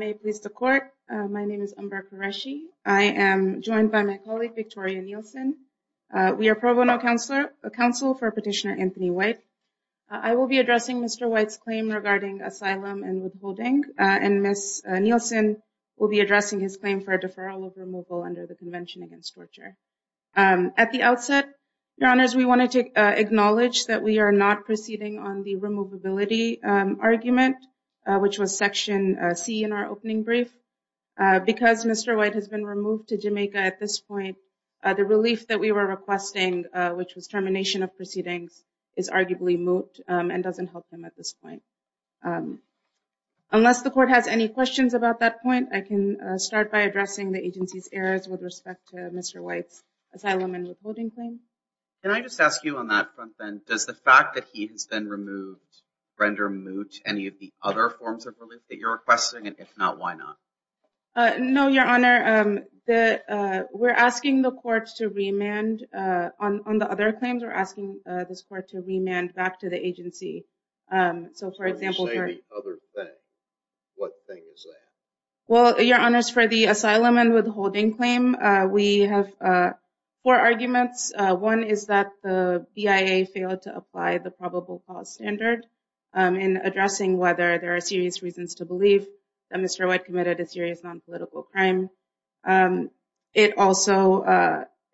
May it please the court. My name is Umber Qureshi. I am joined by my colleague Victoria Nielsen We are pro bono counselor a counsel for petitioner Anthony White. I will be addressing. Mr White's claim regarding asylum and withholding and Miss Nielsen will be addressing his claim for a deferral of removal under the Convention Against Torture At the outset your honors. We wanted to acknowledge that we are not proceeding on the removability Argument, which was section C in our opening brief Because mr. White has been removed to Jamaica at this point the relief that we were requesting Which was termination of proceedings is arguably moot and doesn't help them at this point Unless the court has any questions about that point I can start by addressing the agency's errors with respect to mr. White's asylum and withholding claim and I just ask you on that front then does the fact that he has been removed Render moot any of the other forms of relief that you're requesting and if not, why not? No, your honor the we're asking the courts to remand on the other claims We're asking this court to remand back to the agency So for example Well your honors for the asylum and withholding claim we have Four arguments one is that the BIA failed to apply the probable cause standard In addressing whether there are serious reasons to believe that mr. White committed a serious non-political crime it also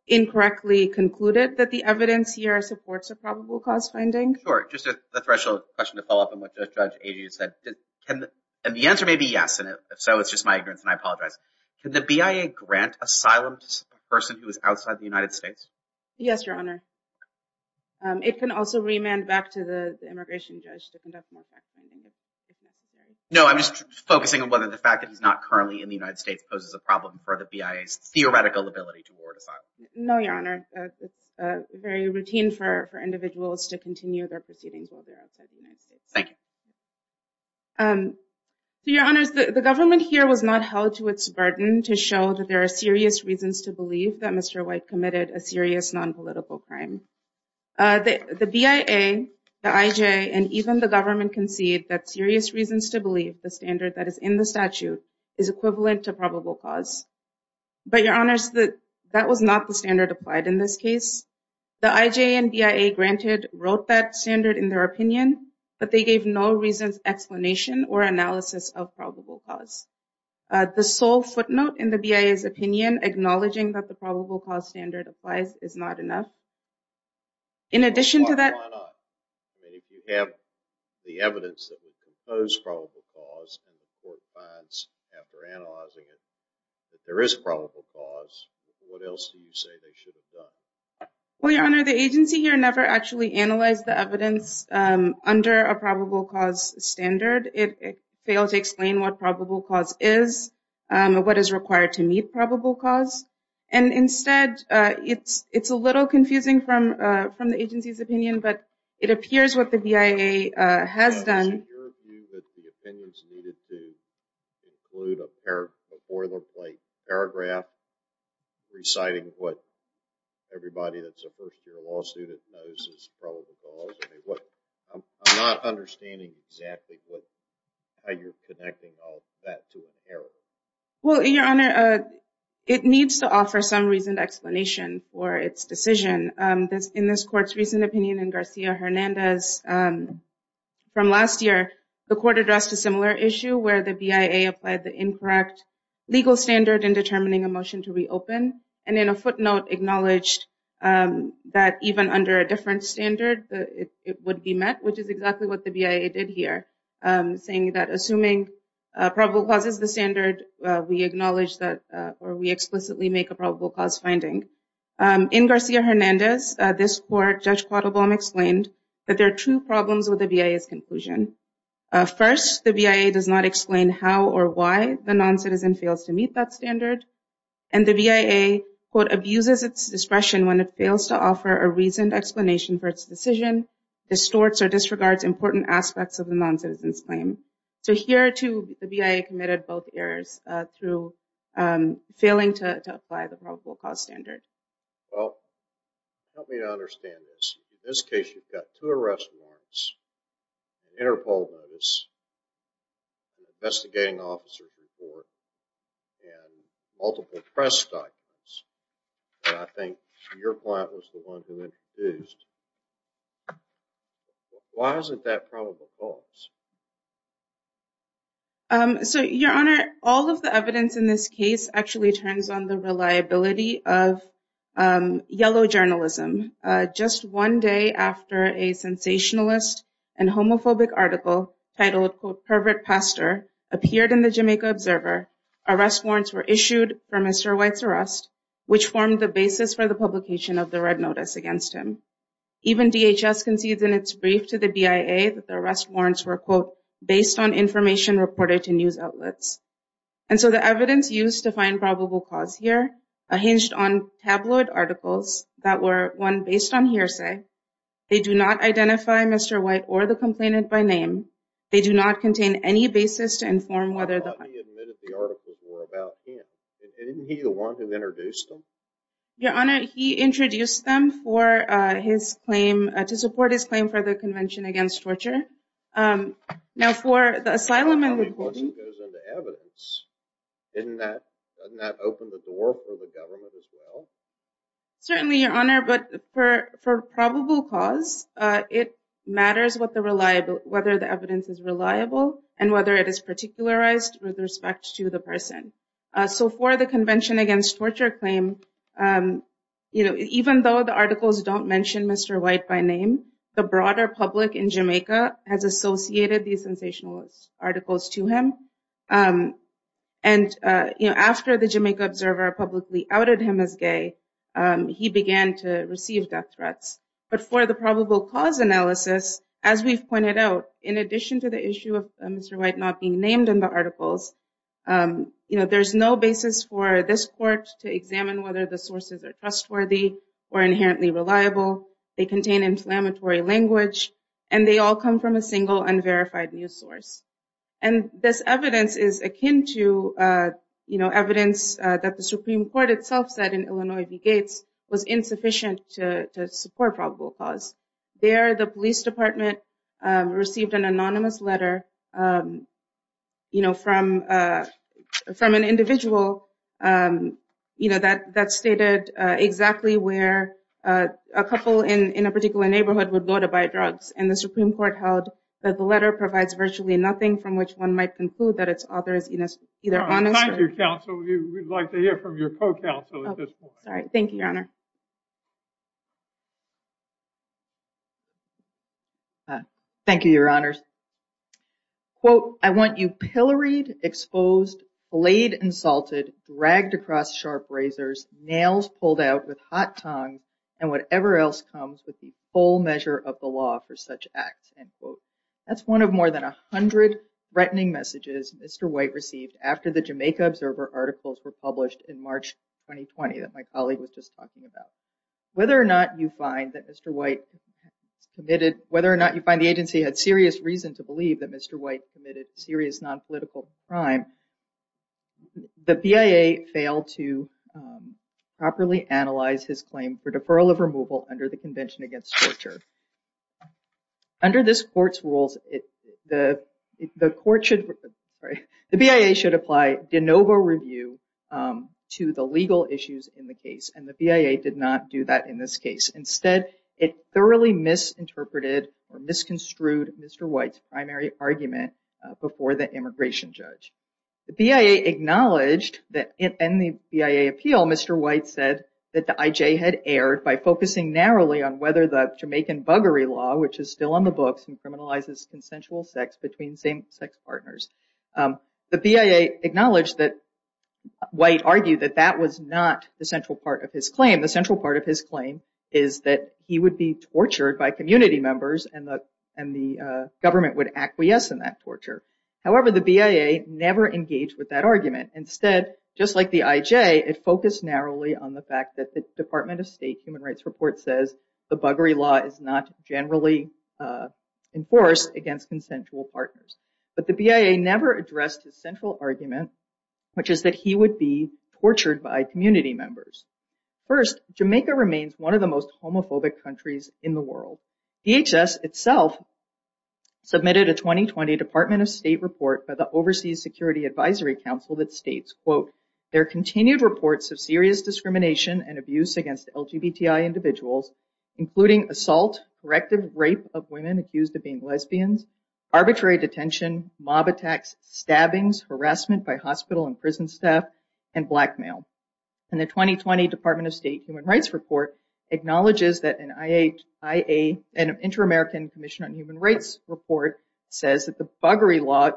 Incorrectly concluded that the evidence here supports a probable cause finding or just a threshold question to follow up on what the judge Aged said and the answer may be yes, and if so, it's just my ignorance and I apologize The BIA grant asylum person who is outside the United States. Yes, your honor It can also remand back to the immigration judge No, I'm just focusing on whether the fact that he's not currently in the United States poses a problem for the BIA's theoretical ability No, your honor Very routine for individuals to continue their proceedings Thank you Your honors the government here was not held to its burden to show that there are serious reasons to believe that mr White committed a serious non-political crime the the BIA The IJ and even the government concede that serious reasons to believe the standard that is in the statute is equivalent to probable cause But your honors that that was not the standard applied in this case The IJ and BIA granted wrote that standard in their opinion, but they gave no reasons explanation or analysis of probable cause The sole footnote in the BIA's opinion acknowledging that the probable cause standard applies is not enough in addition to that If you have the evidence that was proposed for all the cause There is probable cause what else Well, your honor the agency here never actually analyzed the evidence Under a probable cause standard it failed to explain what probable cause is What is required to meet probable cause and instead? It's it's a little confusing from from the agency's opinion, but it appears what the BIA has done Paragraph reciting what everybody that's a first-year law student What I'm not understanding exactly what You're connecting all that to an error. Well your honor It needs to offer some reasoned explanation for its decision this in this court's recent opinion in Garcia Hernandez From last year the court addressed a similar issue where the BIA applied the incorrect Legal standard in determining a motion to reopen and in a footnote acknowledged That even under a different standard that it would be met which is exactly what the BIA did here saying that assuming Probable causes the standard we acknowledge that or we explicitly make a probable cause finding In Garcia Hernandez this court judge caught Obama explained that there are two problems with the BIA's conclusion first the BIA does not explain how or why the non-citizen fails to meet that standard and the BIA quote abuses its discretion when it fails to offer a reasoned explanation for its decision Distorts or disregards important aspects of the non-citizens claim. So here to the BIA committed both errors through failing to apply the probable cause standard Help me to understand this this case. You've got two arrest warrants Interpol notice Investigating officer report and Multiple press documents. I think your client was the one who introduced Why isn't that probable cause So your honor all of the evidence in this case actually turns on the reliability of yellow journalism Just one day after a sensationalist and homophobic article titled quote pervert pastor appeared in the Jamaica Observer Arrest warrants were issued for mr. White's arrest which formed the basis for the publication of the red notice against him Even DHS concedes in its brief to the BIA that the arrest warrants were quote based on information reported to news outlets And so the evidence used to find probable cause here a hinged on Tabloid articles that were one based on hearsay. They do not identify. Mr. White or the complainant by name They do not contain any basis to inform whether the Didn't he the one who introduced them your honor he introduced them for his claim to support his claim for the Convention Against Torture now for the asylum and Certainly your honor but for for probable cause It matters what the reliable whether the evidence is reliable and whether it is particularized with respect to the person So for the Convention Against Torture claim You know, even though the articles don't mention. Mr. White by name the broader public in Jamaica has associated these sensationalist articles to him and You know after the Jamaica Observer publicly outed him as gay He began to receive death threats But for the probable cause analysis as we've pointed out in addition to the issue of mr. White not being named in the articles You know, there's no basis for this court to examine whether the sources are trustworthy or inherently reliable they contain inflammatory language and they all come from a single unverified news source and This evidence is akin to You know evidence that the Supreme Court itself said in Illinois the gates was insufficient to support probable cause There the police department received an anonymous letter You know from from an individual You know that that stated exactly where a couple in in a particular neighborhood would go to buy drugs And the Supreme Court held that the letter provides virtually nothing from which one might conclude that it's others You know either honest your counsel. We'd like to hear from your co-counsel Thank you, Your Honor Thank you, Your Honors Quote I want you pilloried exposed blade insulted dragged across sharp razors Nails pulled out with hot tongue and whatever else comes with the full measure of the law for such acts and quote That's one of more than a hundred Threatening messages. Mr. White received after the Jamaica Observer articles were published in March 2020 that my colleague was just talking about whether or not you find that mr. White Committed whether or not you find the agency had serious reason to believe that mr. White committed serious non-political crime the BIA failed to Properly analyze his claim for deferral of removal under the Convention Against Torture Under this court's rules it the the court should the BIA should apply de novo review To the legal issues in the case and the BIA did not do that in this case instead it thoroughly Misinterpreted or misconstrued mr. White's primary argument before the immigration judge the BIA Acknowledged that in the BIA appeal mr. White said that the IJ had erred by focusing narrowly on whether the Jamaican buggery law Which is still on the books and criminalizes consensual sex between same-sex partners the BIA acknowledged that White argued that that was not the central part of his claim the central part of his claim is that he would be Tortured by community members and the and the government would acquiesce in that torture However the BIA never engaged with that argument instead just like the IJ it focused narrowly on the fact that the Department of State Human Rights report says the buggery law is not generally Enforced against consensual partners, but the BIA never addressed his central argument Which is that he would be tortured by community members First Jamaica remains one of the most homophobic countries in the world DHS itself Submitted a 2020 Department of State report by the Overseas Security Advisory Council that states quote their continued reports of serious discrimination and abuse against LGBTI individuals including assault corrective rape of women accused of being lesbians arbitrary detention mob attacks stabbings harassment by hospital and prison staff and blackmail and the 2020 Department of State Human Rights report Acknowledges that an IHIA and an Inter-American Commission on Human Rights report says that the buggery law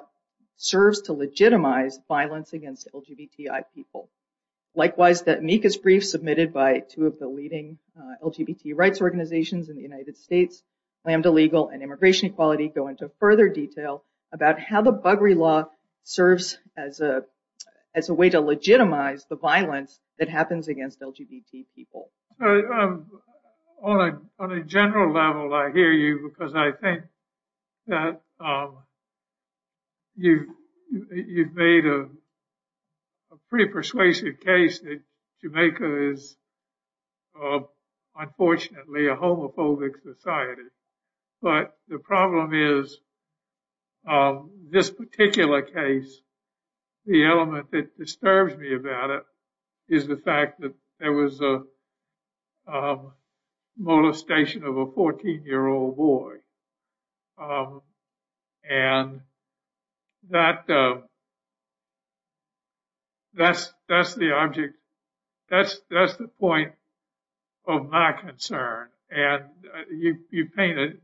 serves to legitimize violence against LGBTI people Likewise that Mika's brief submitted by two of the leading LGBT rights organizations in the United States Lambda legal and immigration equality go into further detail about how the buggery law Serves as a as a way to legitimize the violence that happens against LGBT people All right on a general level. I hear you because I think that You you've made a pretty persuasive case that Jamaica is Unfortunately a homophobic society, but the problem is This particular case the element that disturbs me about it is the fact that there was a Molestation of a 14 year old boy and That That's that's the object that's that's the point of my concern and you painted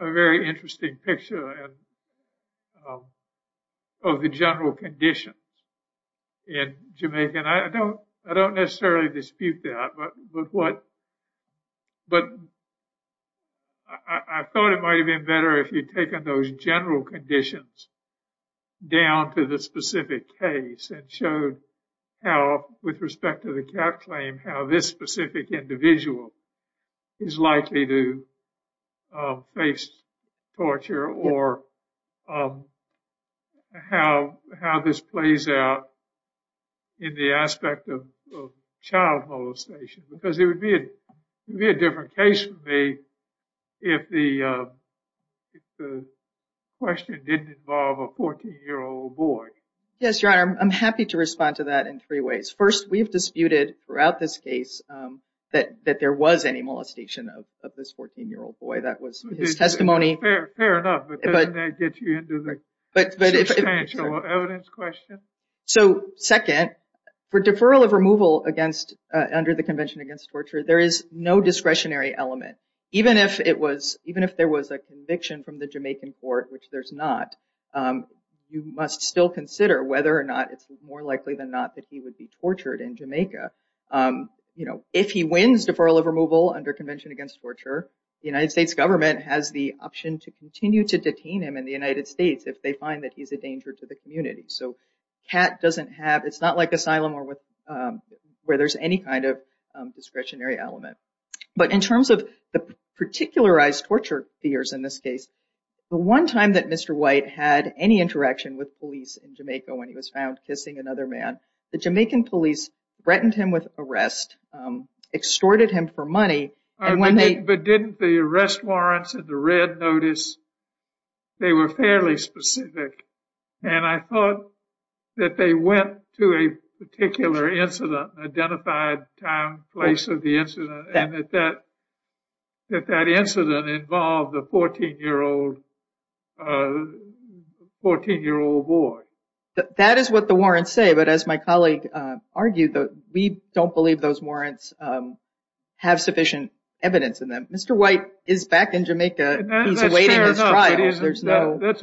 a very interesting picture of The general conditions In Jamaica, and I don't I don't necessarily dispute that but look what but I Thought it might have been better if you'd taken those general conditions Down to the specific case and showed how with respect to the cap claim how this specific individual is likely to face torture or How How this plays out in the aspect of child molestation because it would be a different case for me if the Question didn't involve a 14 year old boy. Yes, your honor. I'm happy to respond to that in three ways first We've disputed throughout this case That that there was any molestation of this 14 year old boy. That was testimony But So second for deferral of removal against under the Convention Against Torture There is no discretionary element, even if it was even if there was a conviction from the Jamaican court, which there's not You must still consider whether or not it's more likely than not that he would be tortured in Jamaica you know if he wins deferral of removal under Convention Against Torture the United States government has the Option to continue to detain him in the United States if they find that he's a danger to the community So cat doesn't have it's not like asylum or with where there's any kind of discretionary element, but in terms of the Particularized torture fears in this case the one time that mr. White had any interaction with police in Jamaica when he was found kissing another man the Jamaican police threatened him with arrest Extorted him for money and when they but didn't the arrest warrants and the red notice they were fairly specific and I thought that they went to a particular incident identified time place of the incident and that that That that incident involved the 14 year old 14 year old boy That is what the warrants say, but as my colleague argued that we don't believe those warrants Have sufficient evidence in them. Mr. White is back in Jamaica That's a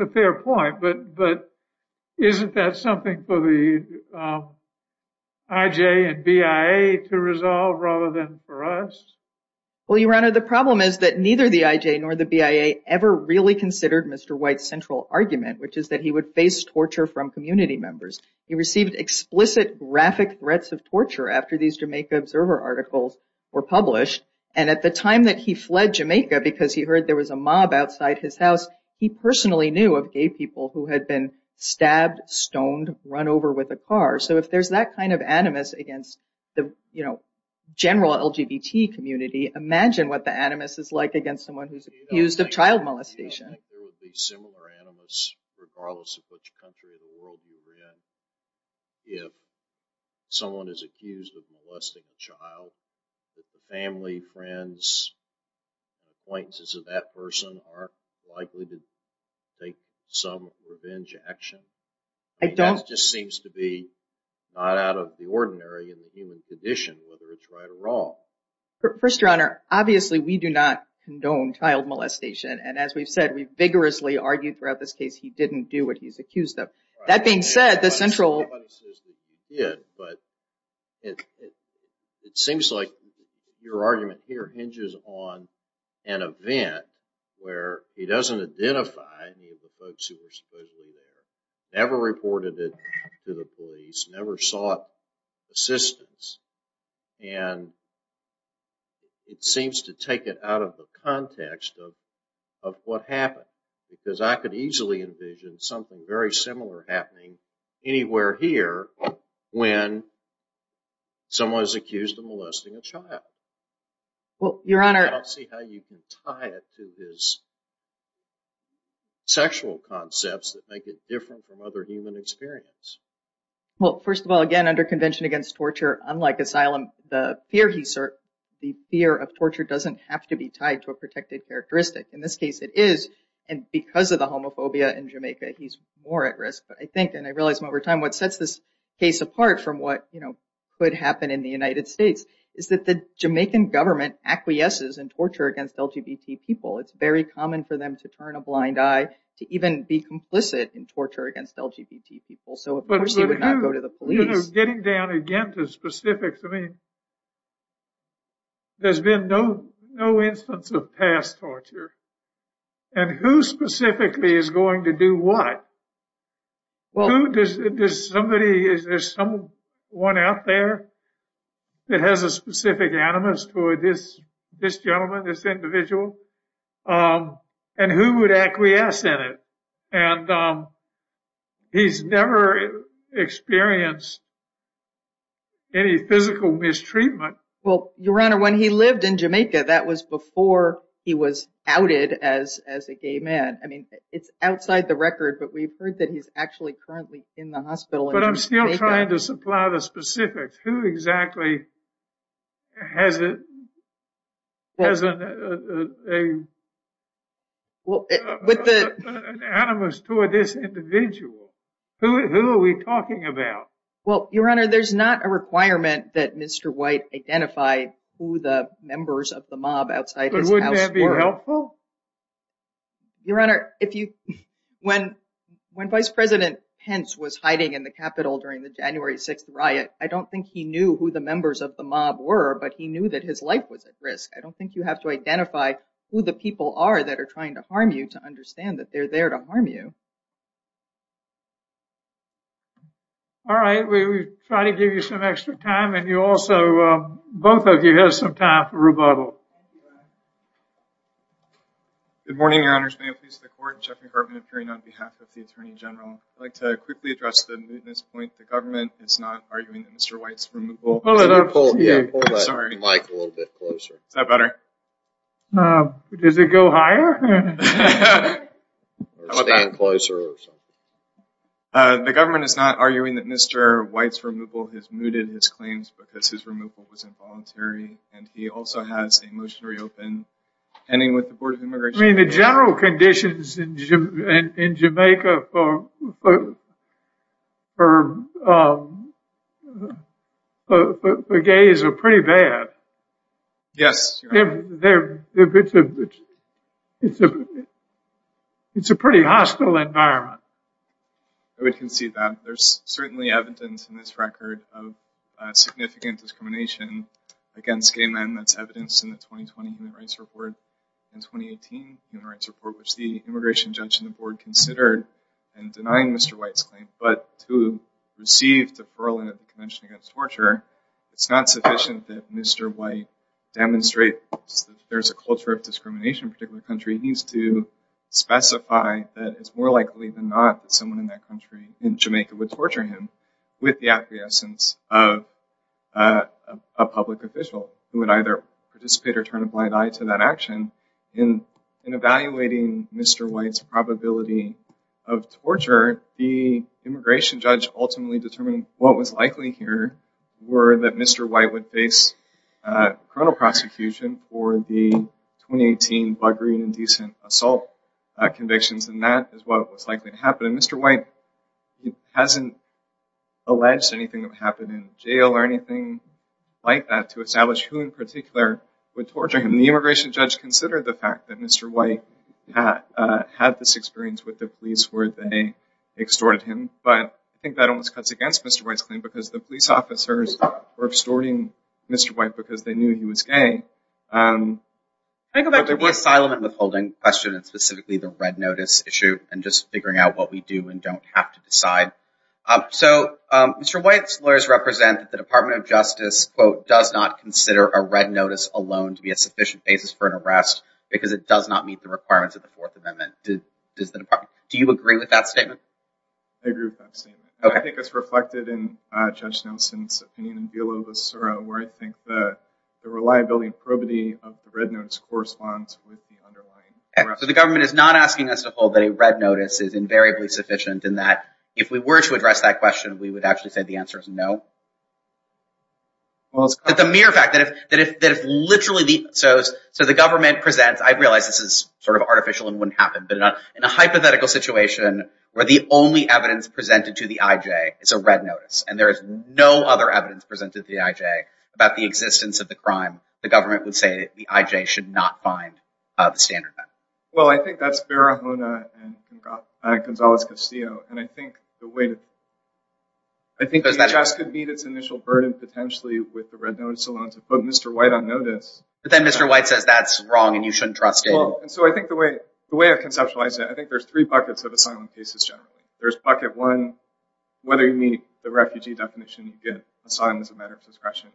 fair point, but but isn't that something for the IJ and BIA to resolve rather than for us Well, your honor the problem is that neither the IJ nor the BIA ever really considered. Mr. White central argument Which is that he would face torture from community members he received explicit graphic threats of torture after these Jamaica observer articles were published and at the time that he fled Jamaica because He heard there was a mob outside his house. He personally knew of gay people who had been stabbed stoned run over with a car So if there's that kind of animus against the you know General LGBT community imagine what the animus is like against someone who's used of child molestation Regardless of which country in the world you live in if Someone is accused of molesting a child family friends Appointments of that person aren't likely to take some revenge action I don't just seems to be not out of the ordinary in the human condition whether it's right or wrong First your honor, obviously we do not condone child molestation And as we've said we've vigorously argued throughout this case. He didn't do what he's accused of that being said the central yeah, but It seems like your argument here hinges on an event where he doesn't identify Never reported it to the police never sought assistance and It seems to take it out of the context of what happened because I could easily envision something very similar happening anywhere here when Someone's accused of molesting a child Well your honor Sexual concepts that make it different from other human experience Well first of all again under convention against torture unlike asylum the fear The fear of torture doesn't have to be tied to a protected characteristic in this case It is and because of the homophobia in Jamaica He's more at risk, but I think and I realized over time what sets this case apart from what you know Could happen in the United States is that the Jamaican government acquiesces and torture against LGBT people? It's very common for them to turn a blind eye to even be complicit in torture against LGBT people So it would not go to the police getting down again to specifics. I mean There's been no no instance of past torture and who specifically is going to do what? Well, who does it does somebody is there someone out there? That has a specific animus for this this gentleman this individual and who would acquiesce in it and He's never experienced Any physical mistreatment well your honor when he lived in Jamaica that was before he was outed as as a gay man I mean, it's outside the record, but we've heard that he's actually currently in the hospital But I'm still trying to supply the specifics who exactly has it doesn't a Well with the Animus toward this individual Who are we talking about well your honor? There's not a requirement that mr. White identify who the members of the mob outside would be helpful Your honor if you when when vice president Pence was hiding in the Capitol during the January 6th riot I don't think he knew who the members of the mob were but he knew that his life was at risk I don't think you have to identify Who the people are that are trying to harm you to understand that they're there to harm you All right, we try to give you some extra time and you also both of you have some time for rebuttal Good morning Like to quickly address the government it's not Does it go higher The government is not arguing that mr. White's removal has mooted his claims because his removal was involuntary and he also has a motionary open Ending with the Board of Immigration the general conditions in Jamaica for Her Gays are pretty bad Yes It's a pretty hostile environment We can see that there's certainly evidence in this record of significant discrimination against gay men that's evidence in the 2020 human rights report and 2018 human rights report which the immigration judge in the board considered and denying mr. White's claim but to receive deferral in a convention against torture It's not sufficient that mr. White demonstrate there's a culture of discrimination particular country needs to specify that it's more likely than not someone in that country in Jamaica would torture him with the acquiescence of a public official who would either participate or turn a blind eye to that action in in evaluating mr. White's probability of torture the immigration judge ultimately determined what was likely here Were that mr. White would face criminal prosecution for the 2018 buggery and indecent assault Convictions and that is what was likely to happen. Mr. White hasn't Alleged anything that happened in jail or anything like that to establish who in particular Would torture him the immigration judge considered the fact that mr. White had had this experience with the police where they extorted him, but I think that almost cuts against mr White's claim because the police officers were extorting mr. White because they knew he was gay I go back to the asylum and withholding question and specifically the red notice issue and just figuring out what we do and don't have to decide So mr. White's lawyers represent the Department of Justice Quote does not consider a red notice alone to be a sufficient basis for an arrest Because it does not meet the requirements of the Fourth Amendment. Did does the department do you agree with that statement? I agree with that statement. I think it's reflected in Judge Nelson's opinion in Beelow the Soro where I think the Reliability and probity of the red notes corresponds with the underlying arrest. So the government is not asking us to hold that a red notice is Invariably sufficient in that if we were to address that question, we would actually say the answer is no Well, it's the mere fact that if that if literally the so so the government presents I realize this is sort of artificial and wouldn't happen but not in a hypothetical situation where the only evidence presented to the IJ is a red notice and there is no other evidence presented to the IJ about the Existence of the crime the government would say the IJ should not find the standard. Well, I think that's Barahona and Gonzales Castillo, and I think the way to I Think that just could meet its initial burden potentially with the red notice alone to put mr. White on notice, but then mr. White says that's wrong and you shouldn't trust it. So I think the way the way I've conceptualized it I think there's three buckets of asylum cases. Generally, there's bucket one Whether you meet the refugee definition you get asylum as a matter of discretion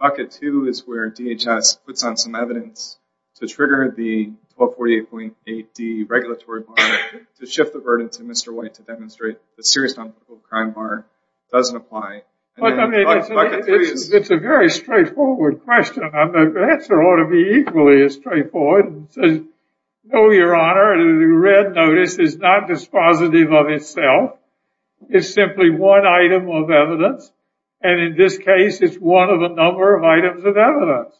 Bucket two is where DHS puts on some evidence to trigger the 1248.8 D Regulatory bond to shift the burden to mr. White to demonstrate the serious non-critical crime bar doesn't apply It's a very straightforward question, I'm the answer ought to be equally as straightforward No, your honor the red notice is not dispositive of itself It's simply one item of evidence. And in this case, it's one of a number of items of evidence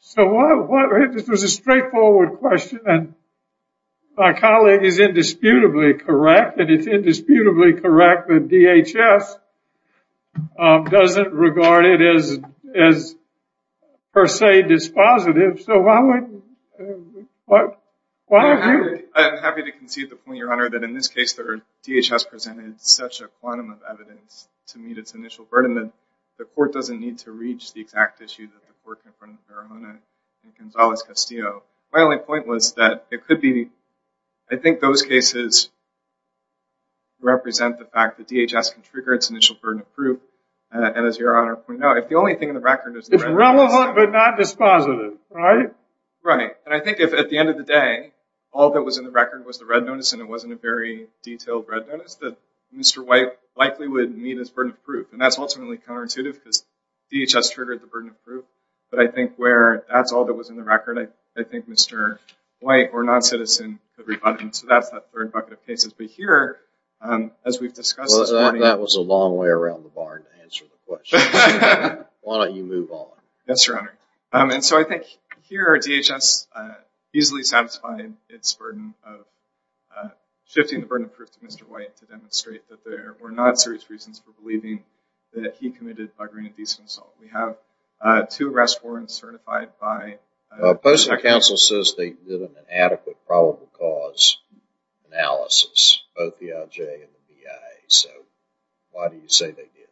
So what this was a straightforward question and My colleague is indisputably, correct, and it's indisputably correct that DHS Doesn't regard it as as Dispositive so That in this case the DHS presented such a quantum of evidence to meet its initial burden that the court doesn't need to reach the exact issue Gonzalez Castillo, my only point was that it could be I think those cases Represent the fact that DHS can trigger its initial burden of proof And as your honor, we know if the only thing in the record is it's relevant but not dispositive, right? Right, and I think if at the end of the day all that was in the record was the red notice and it wasn't a Very detailed red notice that mr. White likely would meet his burden of proof and that's ultimately counterintuitive because DHS triggered the burden of proof But I think where that's all that was in the record. I think mr. White or non-citizen every button So that's that third bucket of cases be here As we've discussed that was a long way around the bar Why don't you move on that's your honor and so I think here our DHS easily satisfied its burden of Shifting the burden of proof to mr. White to demonstrate that there were not serious reasons for believing that he committed a grand decent assault We have two arrest warrants certified by Postal counsel says they did an adequate probable cause Analysis both the LJ and the VA. So why do you say they did?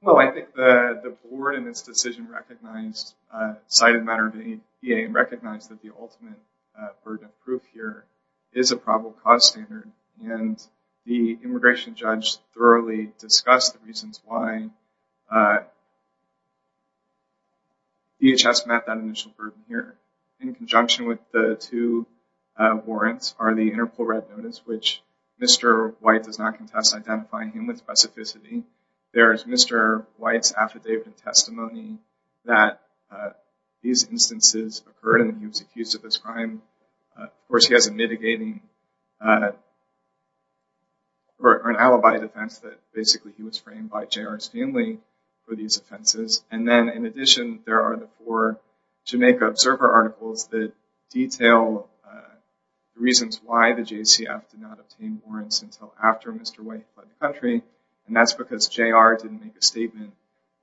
Well, I think the the board in this decision recognized cited matter of any VA and recognized that the ultimate burden of proof here is a probable cause standard and the immigration judge thoroughly discussed the reasons why DHS met that initial burden here in conjunction with the two Warrants are the interpol red notice, which mr. White does not contest identifying him with specificity There is mr. White's affidavit testimony that These instances occurred and he was accused of this crime Of course, he has a mitigating Or An alibi defense that basically he was framed by jr's family for these offenses and then in addition there are the four Jamaica Observer articles that detail Reasons why the JCF did not obtain warrants until after mr. White by the country and that's because jr Didn't make a statement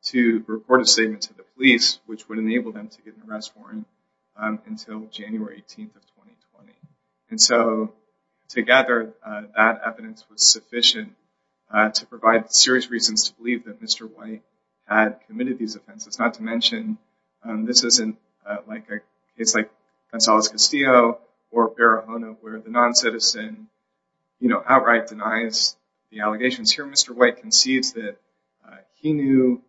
to report a statement to the police which would enable them to get an arrest warrant until January 18th of 2020 and so Together that evidence was sufficient To provide the serious reasons to believe that mr. White had committed these offenses not to mention This isn't like it's like Gonzales Castillo or Barahona where the non-citizen You know outright denies the allegations here. Mr. White concedes that he knew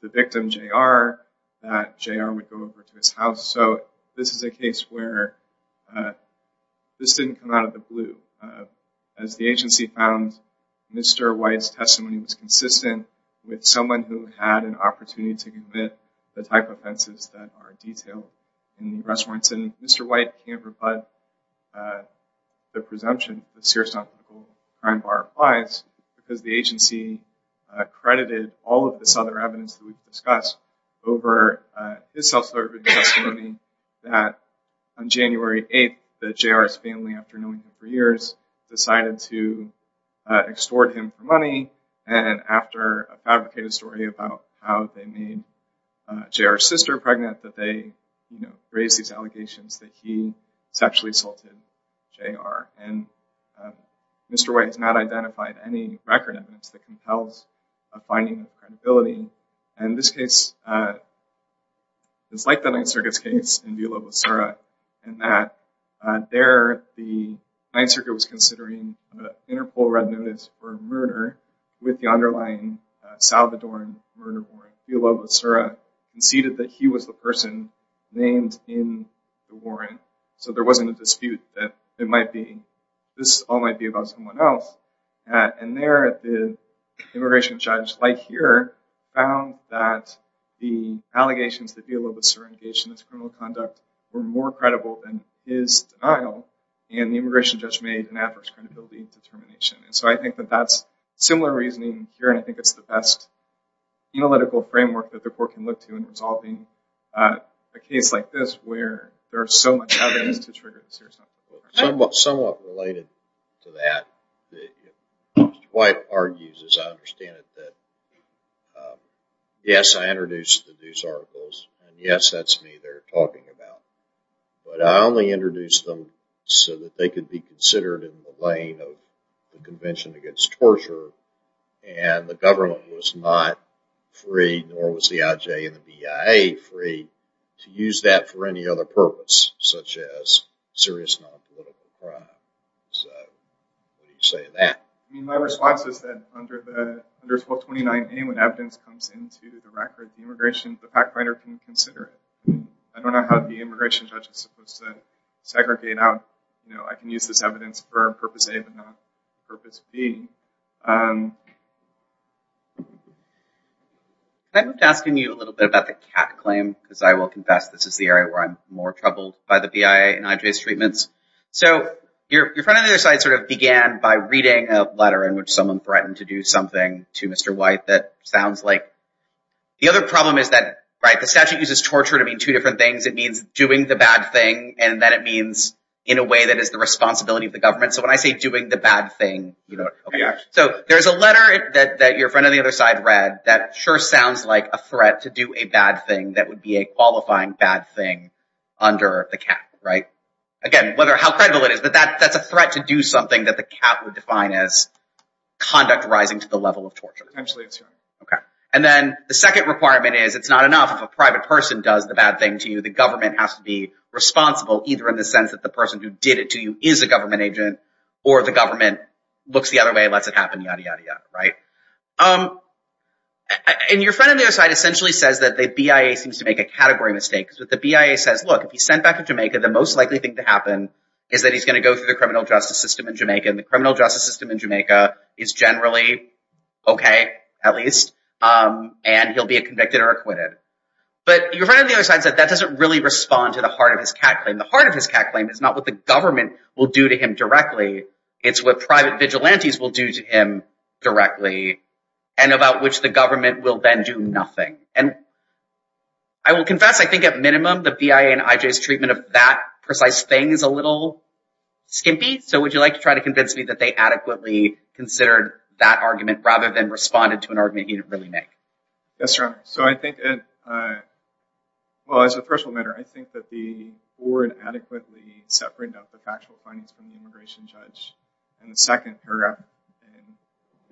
The victim jr that jr would go over to his house. So this is a case where This didn't come out of the blue as the agency found Mr. White's testimony was consistent with someone who had an opportunity to commit the type offenses that are detailed In the arrest warrants and mr. White can't rebut the presumption of serious non-critical crime bar applies because the agency Credited all of this other evidence that we've discussed over His self-serving testimony that on January 8th the jr's family after knowing him for years decided to extort him for money and after a fabricated story about how they made jr sister pregnant that they you know raised these allegations that he sexually assaulted jr and Mr. White has not identified any record evidence that compels a finding of credibility and this case Is like the Ninth Circuit's case in Villalobosura and that There the Ninth Circuit was considering an interpol red notice for murder with the underlying Salvadoran murder warrant. Villalobosura Conceded that he was the person named in the warrant so there wasn't a dispute that it might be this all might be about someone else and there the Immigration judge like here found that the allegations that Villalobosura engaged in this criminal conduct were more credible than his Denial and the immigration judge made an adverse credibility determination. And so I think that that's similar reasoning here. And I think it's the best analytical framework that the court can look to in resolving a Case like this where there are so much evidence to trigger the serious non-critical crime. Somewhat related to that Mr. White argues, as I understand it, that Yes, I introduced the deuce articles and yes, that's me they're talking about but I only introduced them so that they could be considered in the lane of the Convention Against Torture and the government was not free nor was the IJ and the BIA free to use that for any other purpose such as serious non-political crime. My response is that under 1229A when evidence comes into the record, the immigration, the fact finder can consider it. I don't know how the immigration judge is supposed to segregate out. You know, I can use this evidence for purpose A but not purpose B. I'm asking you a little bit about the cat claim because I will confess this is the area where I'm more troubled by the BIA and IJ's treatments. So your friend on the other side sort of began by reading a letter in which someone threatened to do something to Mr. White that sounds like... The other problem is that, right, the statute uses torture to mean two different things. It means doing the bad thing and then it means in a way that is the responsibility of the government. So when I say doing the bad thing, you know... So there's a letter that your friend on the other side read that sure sounds like a threat to do a bad thing that would be a qualifying bad thing under the cat, right? Again, how credible it is, but that's a threat to do something that the cat would define as conduct rising to the level of torture. Absolutely, that's right. Okay. And then the second requirement is it's not enough if a private person does the bad thing to you. The government has to be responsible either in the sense that the person who did it to you is a government agent or the government looks the other way and lets it happen, yada, yada, yada, right? And your friend on the other side essentially says that the BIA seems to make a category mistake. The BIA says, look, if he's sent back to Jamaica, the most likely thing to happen is that he's going to go through the criminal justice system in Jamaica. And the criminal justice system in Jamaica is generally okay, at least, and he'll be convicted or acquitted. But your friend on the other side said that doesn't really respond to the heart of his cat claim. The heart of his cat claim is not what the government will do to him directly. It's what private vigilantes will do to him directly and about which the government will then do nothing. And I will confess, I think at minimum, the BIA and IJ's treatment of that precise thing is a little skimpy. So would you like to try to convince me that they adequately considered that argument rather than responded to an argument he didn't really make? Yes, Your Honor. So I think, well, as a threshold matter, I think that the board adequately separated out the factual findings from the immigration judge. And the second paragraph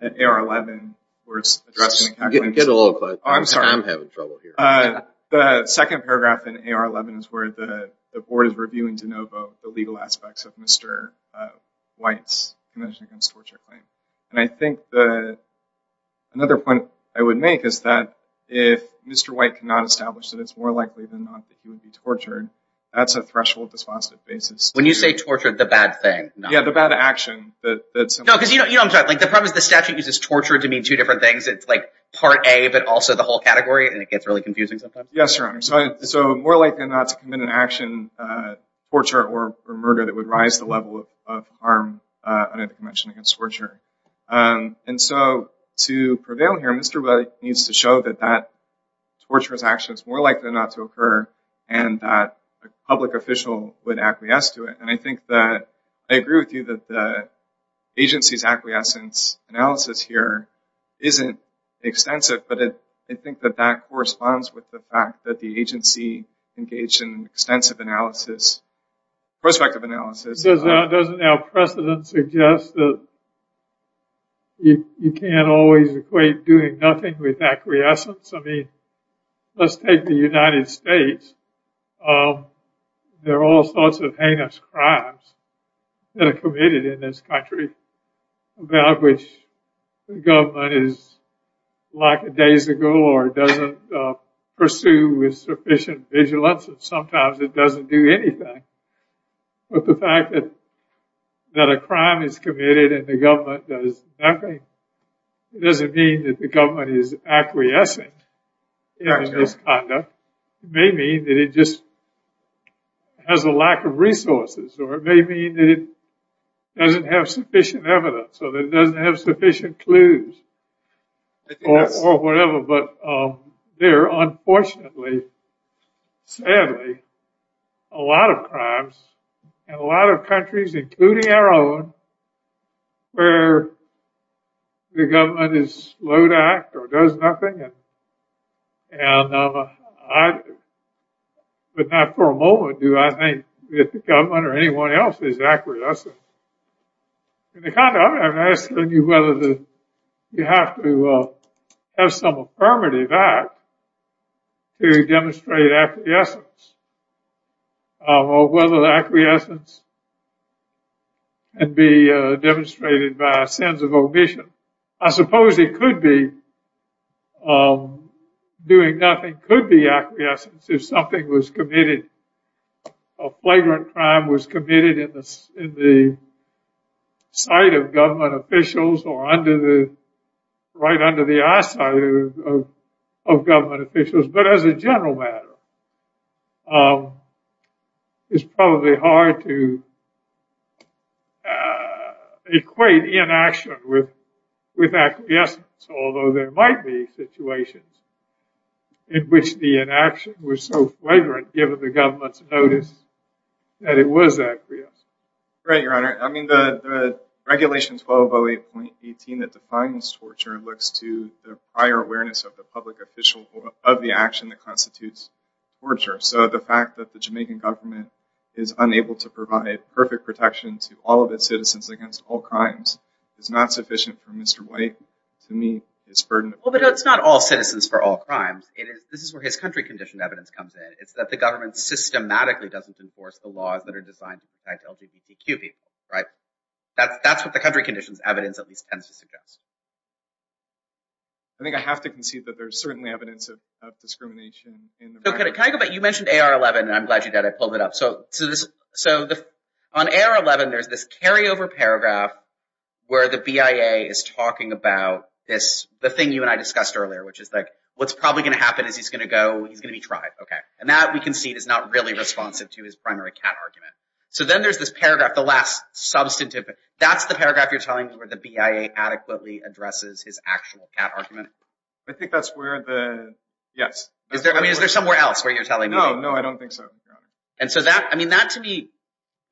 in AR-11, where it's addressing the cat claim. Get a little closer. I'm sorry. I'm having trouble here. The second paragraph in AR-11 is where the board is reviewing de novo the legal aspects of Mr. White's conviction against torture claim. And I think that another point I would make is that if Mr. White cannot establish that it's more likely than not that he would be tortured, that's a threshold dispositive basis. When you say tortured, the bad thing. Yeah, the bad action. No, because you know, I'm sorry, the problem is the statute uses torture to mean two different things. It's like part A, but also the whole category. And it gets really confusing sometimes. Yes, Your Honor. So more likely than not to commit an action, torture or murder that would rise the level of harm under the convention against torture. And so to prevail here, Mr. White needs to show that that torturous action is more likely than not to occur and that a public official would acquiesce to it. And I think that I agree with you that the agency's acquiescence analysis here isn't extensive. But I think that that corresponds with the fact that the agency engaged in extensive analysis, prospective analysis. Doesn't our precedent suggest that you can't always equate doing nothing with acquiescence? I mean, let's take the United States. There are all sorts of heinous crimes that are committed in this country about which the government is like days ago or doesn't pursue with sufficient vigilance. And sometimes it doesn't do anything. But the fact that a crime is committed and the government does nothing, it doesn't mean that the government is acquiescing in its conduct. It may mean that it just has a lack of resources or it may mean that it doesn't have sufficient evidence or that it doesn't have sufficient clues or whatever. But there are unfortunately, sadly, a lot of crimes in a lot of countries, including our own, where the government is slow to act or does nothing. And I would not for a moment do I think that the government or anyone else is acquiescing. I'm asking you whether you have to have some affirmative act to demonstrate acquiescence or whether the acquiescence can be demonstrated by a sense of omission. I suppose it could be doing nothing could be acquiescence if something was committed, a flagrant crime was committed in the sight of government officials or right under the eyesight of government officials. But as a general matter, it's probably hard to equate inaction with acquiescence, although there might be situations in which the inaction was so flagrant given the government's notice that it was acquiesced. Right, Your Honor. I mean, the regulation 1208.18 that defines torture looks to the prior awareness of the public official of the action that constitutes torture. So the fact that the Jamaican government is unable to provide perfect protection to all of its citizens against all crimes is not sufficient for Mr. White to meet his burden. Well, but it's not all citizens for all crimes. This is where his country condition evidence comes in. It's that the government systematically doesn't enforce the laws that are designed to protect LGBTQ people. Right. That's what the country conditions evidence at least tends to suggest. I think I have to concede that there's certainly evidence of discrimination. So can I go back? You mentioned AR-11 and I'm glad you did. I pulled it up. So on AR-11, there's this carryover paragraph where the BIA is talking about this, the thing you and I discussed earlier, which is like, what's probably going to happen is he's going to go, he's going to be tried. Okay. And that we can see is not really responsive to his primary cat argument. So then there's this paragraph, the last substantive, that's the paragraph you're telling me where the BIA adequately addresses his actual cat argument. I think that's where the, yes. I mean, is there somewhere else where you're telling me? No, no, I don't think so. And so that, I mean, that to me,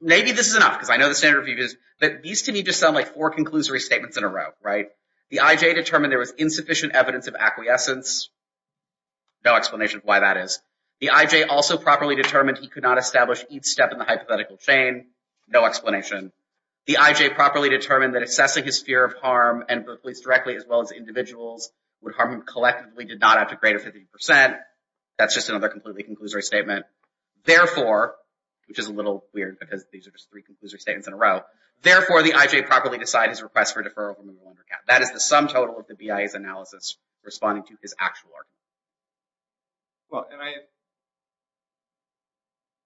maybe this is enough because I know the standard review is, but these to me just sound like four conclusory statements in a row. Right. The IJ determined there was insufficient evidence of acquiescence. No explanation of why that is. The IJ also properly determined he could not establish each step in the hypothetical chain. No explanation. The IJ properly determined that assessing his fear of harm, at least directly as well as individuals, would harm him collectively, did not add to greater 50 percent. That's just another completely conclusory statement. Therefore, which is a little weird because these are just three conclusory statements in a row. Therefore, the IJ properly decide his request for deferral from the Wundercat. That is the sum total of the BIA's analysis responding to his actual argument. Well, and I,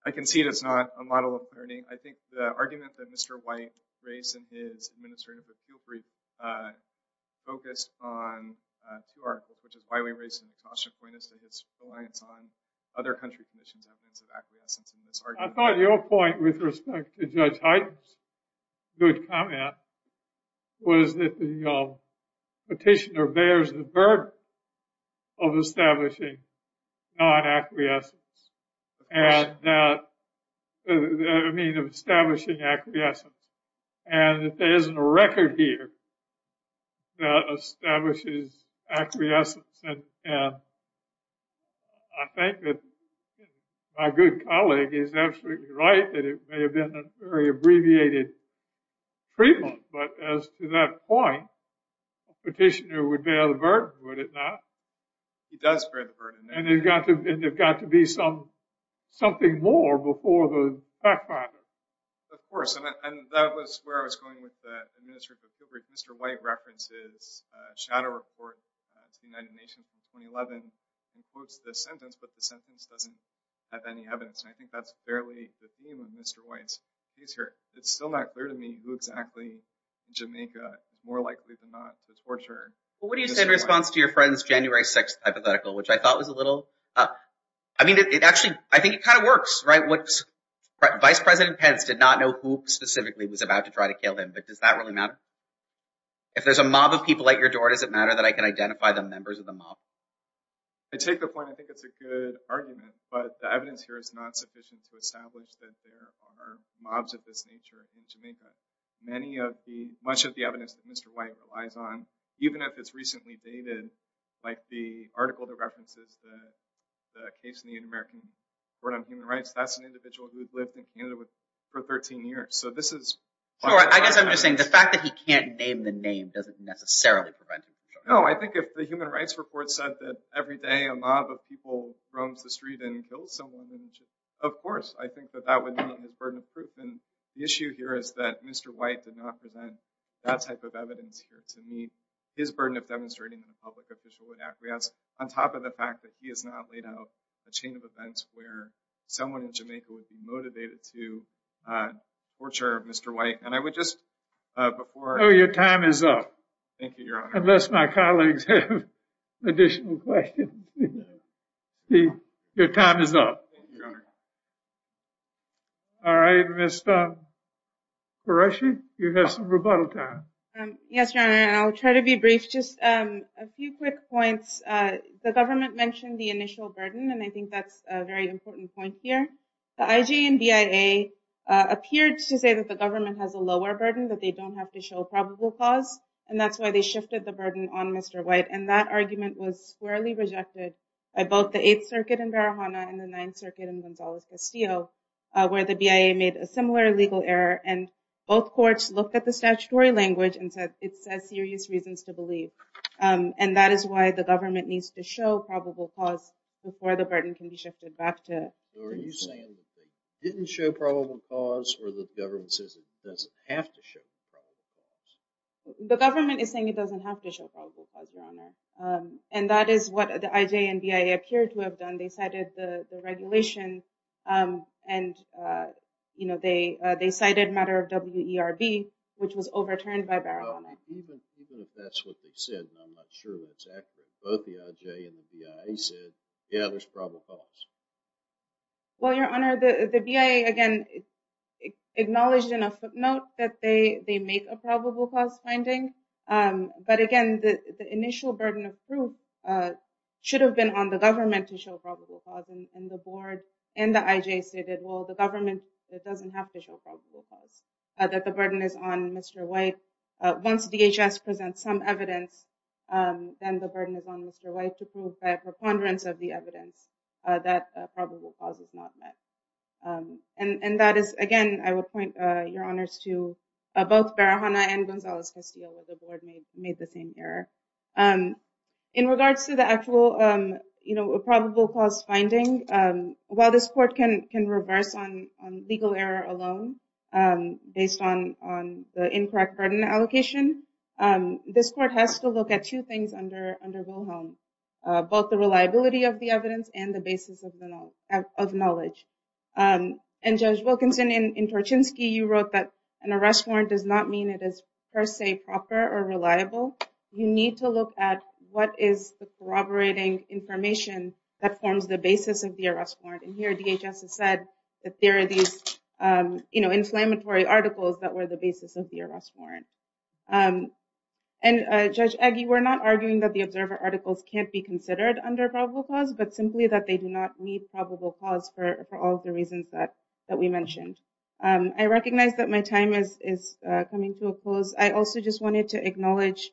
I concede it's not a model of learning. I think the argument that Mr. White raised in his administrative appeal brief focused on two articles, which is why we raised Natasha Coyne as to his reliance on other country commissions. I thought your point with respect to Judge Hyden's good comment was that the petitioner bears the burden of establishing non-acquiescence and that, I mean, of establishing acquiescence and that there isn't a record here that establishes acquiescence and I think that my good colleague is absolutely right that it may have been a very abbreviated treatment, but as to that point, the petitioner would bear the burden, would it not? He does bear the burden. And there's got to be some, something more before the fact finder. Of course, and that was where I was going with the administrative appeal brief. Mr. White references a shadow report to the United Nations in 2011 and quotes this sentence, but the sentence doesn't have any evidence. And I think that's fairly the theme of Mr. White's case here. It's still not clear to me who exactly in Jamaica, more likely than not, was tortured. Well, what do you say in response to your friend's January 6th hypothetical, which I thought was a little, I mean, it actually, I think it kind of works, right? Vice President Pence did not know who specifically was about to try to kill him, but does that really matter? If there's a mob of people at your door, does it matter that I can identify the members of the mob? I take the point. I think it's a good argument, but the evidence here is not sufficient to establish that there are mobs of this nature in Jamaica. Many of the, much of the evidence that Mr. White relies on, even if it's recently dated, like the article that references the case in the Inter-American Court on Human Rights. That's an individual who had lived in Canada for 13 years. So this is... Sure. I guess I'm just saying the fact that he can't name the name doesn't necessarily prevent it. No, I think if the human rights report said that every day a mob of people roams the street and kills someone, of course, I think that that would be a burden of proof. And the issue here is that Mr. White did not present that type of evidence here to meet his burden of demonstrating a public officialhood acquiesce on top of the fact that he has not laid out a chain of events where someone in Jamaica would be motivated to torture Mr. White. And I would just, before... Oh, your time is up. Thank you, Your Honor. Unless my colleagues have additional questions. Your time is up. Thank you, Your Honor. All right. Ms. Qureshi, you have some rebuttal time. Yes, Your Honor, and I'll try to be brief. Just a few quick points. The government mentioned the initial burden, and I think that's a very important point here. The IJ and BIA appeared to say that the government has a lower burden, that they don't have to show a probable cause. And that's why they shifted the burden on Mr. White. And that argument was squarely rejected by both the Eighth Circuit in Barahana and the Ninth Circuit in Gonzales Castillo, where the BIA made a similar legal error. And both courts looked at the statutory language and said it says serious reasons to believe. And that is why the government needs to show probable cause before the burden can be shifted back to... Are you saying that they didn't show probable cause or the government says it doesn't have to show probable cause? The government is saying it doesn't have to show probable cause, Your Honor. And that is what the IJ and BIA appear to have done. They cited the regulation and, you know, they cited a matter of WERB, which was overturned by Barahana. Even if that's what they said, and I'm not sure exactly, both the IJ and the BIA said, yeah, there's probable cause. Well, Your Honor, the BIA, again, acknowledged in a footnote that they make a probable cause finding. But again, the initial burden of proof should have been on the government to show probable cause. And the board and the IJ stated, well, the government, it doesn't have to show probable cause. That the burden is on Mr. White. Once DHS presents some evidence, then the burden is on Mr. White to prove by a preponderance of the evidence that probable cause is not met. And that is, again, I would point your honors to both Barahana and Gonzales Castillo, where the board made the same error. In regards to the actual, you know, probable cause finding, while this court can reverse on legal error alone based on the incorrect burden allocation, this court has to look at two things under Wilhelm, both the reliability of the evidence and the basis of knowledge. And Judge Wilkinson, in Torchinsky, you wrote that an arrest warrant does not mean it is per se proper or reliable. You need to look at what is the corroborating information that forms the basis of the arrest warrant. And here DHS has said that there are these, you know, inflammatory articles that were the basis of the arrest warrant. And Judge Eggie, we're not arguing that the observer articles can't be considered under probable cause, but simply that they do not need probable cause for all of the reasons that that we mentioned. I recognize that my time is coming to a close. I also just wanted to acknowledge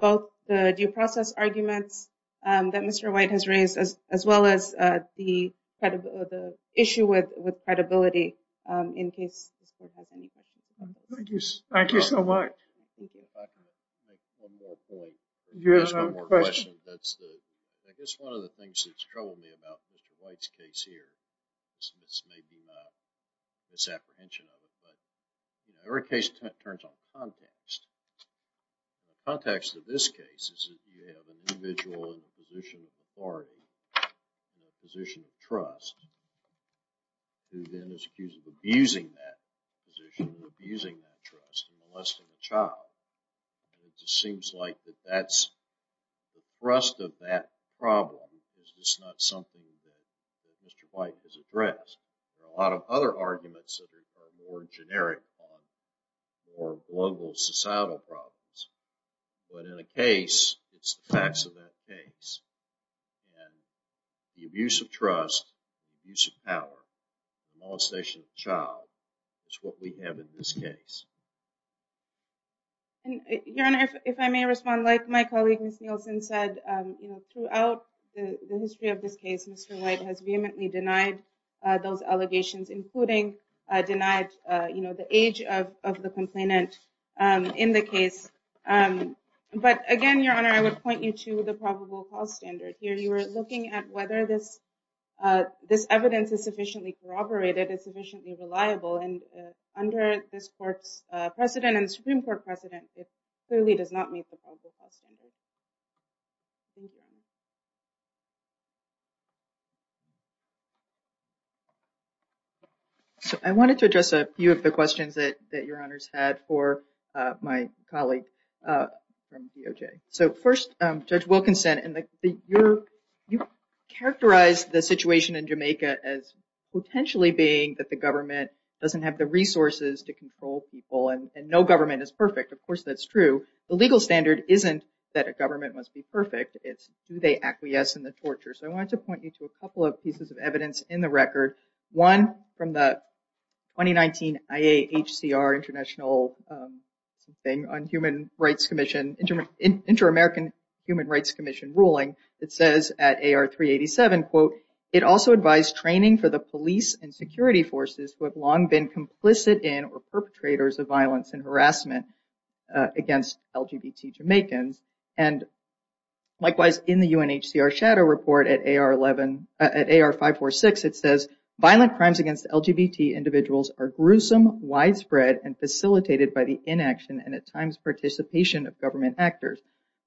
both the due process arguments that Mr. White has raised, as well as the issue with credibility, in case this court has any questions. Thank you. Thank you so much. You have a question? That's the, I guess, one of the things that's troubled me about Mr. White's case here. This may be my misapprehension of it, but every case turns on context. The context of this case is that you have an individual in the position of authority, in the position of trust, who then is accused of abusing that position, or abusing that trust, and molesting a child. And it just seems like that that's, the thrust of that problem is just not something that Mr. White has addressed. A lot of other arguments that are more generic are more global societal problems. But in a case, it's the facts of that case. And the abuse of trust, the abuse of power, the molestation of a child, is what we have in this case. Your Honor, if I may respond, like my colleague Ms. Nielsen said, throughout the history of this case, Mr. White has vehemently denied those allegations, including denied the age of the complainant in the case. But again, Your Honor, I would point you to the probable cause standard here. You are looking at whether this evidence is sufficiently corroborated, is sufficiently reliable. And under this court's precedent and Supreme Court precedent, it clearly does not meet the probable cause standard. Thank you. I wanted to address a few of the questions that Your Honor's had for my colleague from DOJ. So first, Judge Wilkinson, you characterized the situation in Jamaica as potentially being that the government doesn't have the resources to control people, and no government is perfect. Of course, that's true. The legal standard isn't that a government must be perfect. It's do they acquiesce in the torture? So I wanted to point you to a couple of pieces of evidence in the record. One from the 2019 IAHCR International Inter-American Human Rights Commission ruling. It says at AR 387, quote, It also advised training for the police and security forces who have long been complicit in or perpetrators of violence and harassment against LGBT Jamaicans. And likewise, in the UNHCR shadow report at AR 546, it says, My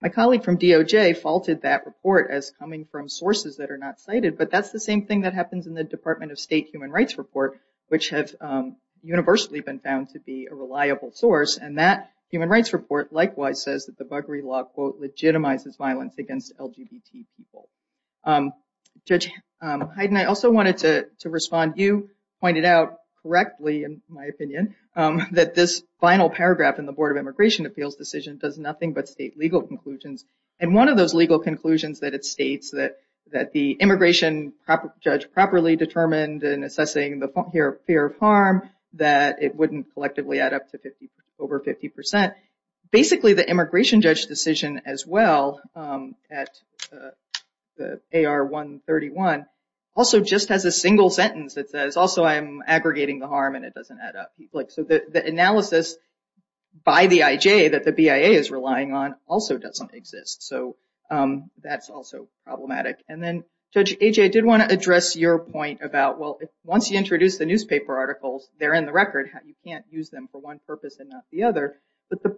colleague from DOJ faulted that report as coming from sources that are not cited, but that's the same thing that happens in the Department of State Human Rights Report, which has universally been found to be a reliable source. And that human rights report likewise says that the buggery law, quote, legitimizes violence against LGBT people. Judge Hyden, I also wanted to respond. You pointed out correctly, in my opinion, that this final paragraph in the Board of Immigration Appeals decision does nothing but state legal conclusions. And one of those legal conclusions that it states that that the immigration judge properly determined in assessing the fear of harm, that it wouldn't collectively add up to over 50 percent. Basically, the immigration judge decision as well at the AR 131 also just has a single sentence that says, Also, I'm aggregating the harm and it doesn't add up. So the analysis by the IJ that the BIA is relying on also doesn't exist. So that's also problematic. And then, Judge Ajay, I did want to address your point about, well, once you introduce the newspaper articles, they're in the record. You can't use them for one purpose and not the other. But the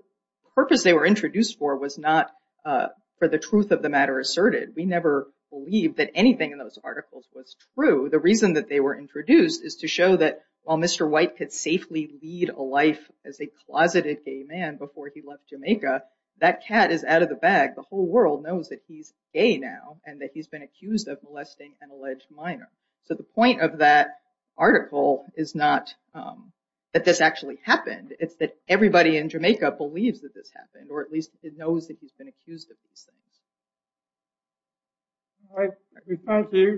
purpose they were introduced for was not for the truth of the matter asserted. We never believe that anything in those articles was true. The reason that they were introduced is to show that while Mr. White could safely lead a life as a closeted gay man before he left Jamaica, that cat is out of the bag. The whole world knows that he's gay now and that he's been accused of molesting an alleged minor. So the point of that article is not that this actually happened. It's that everybody in Jamaica believes that this happened, or at least it knows that he's been accused of these things. All right. Thank you.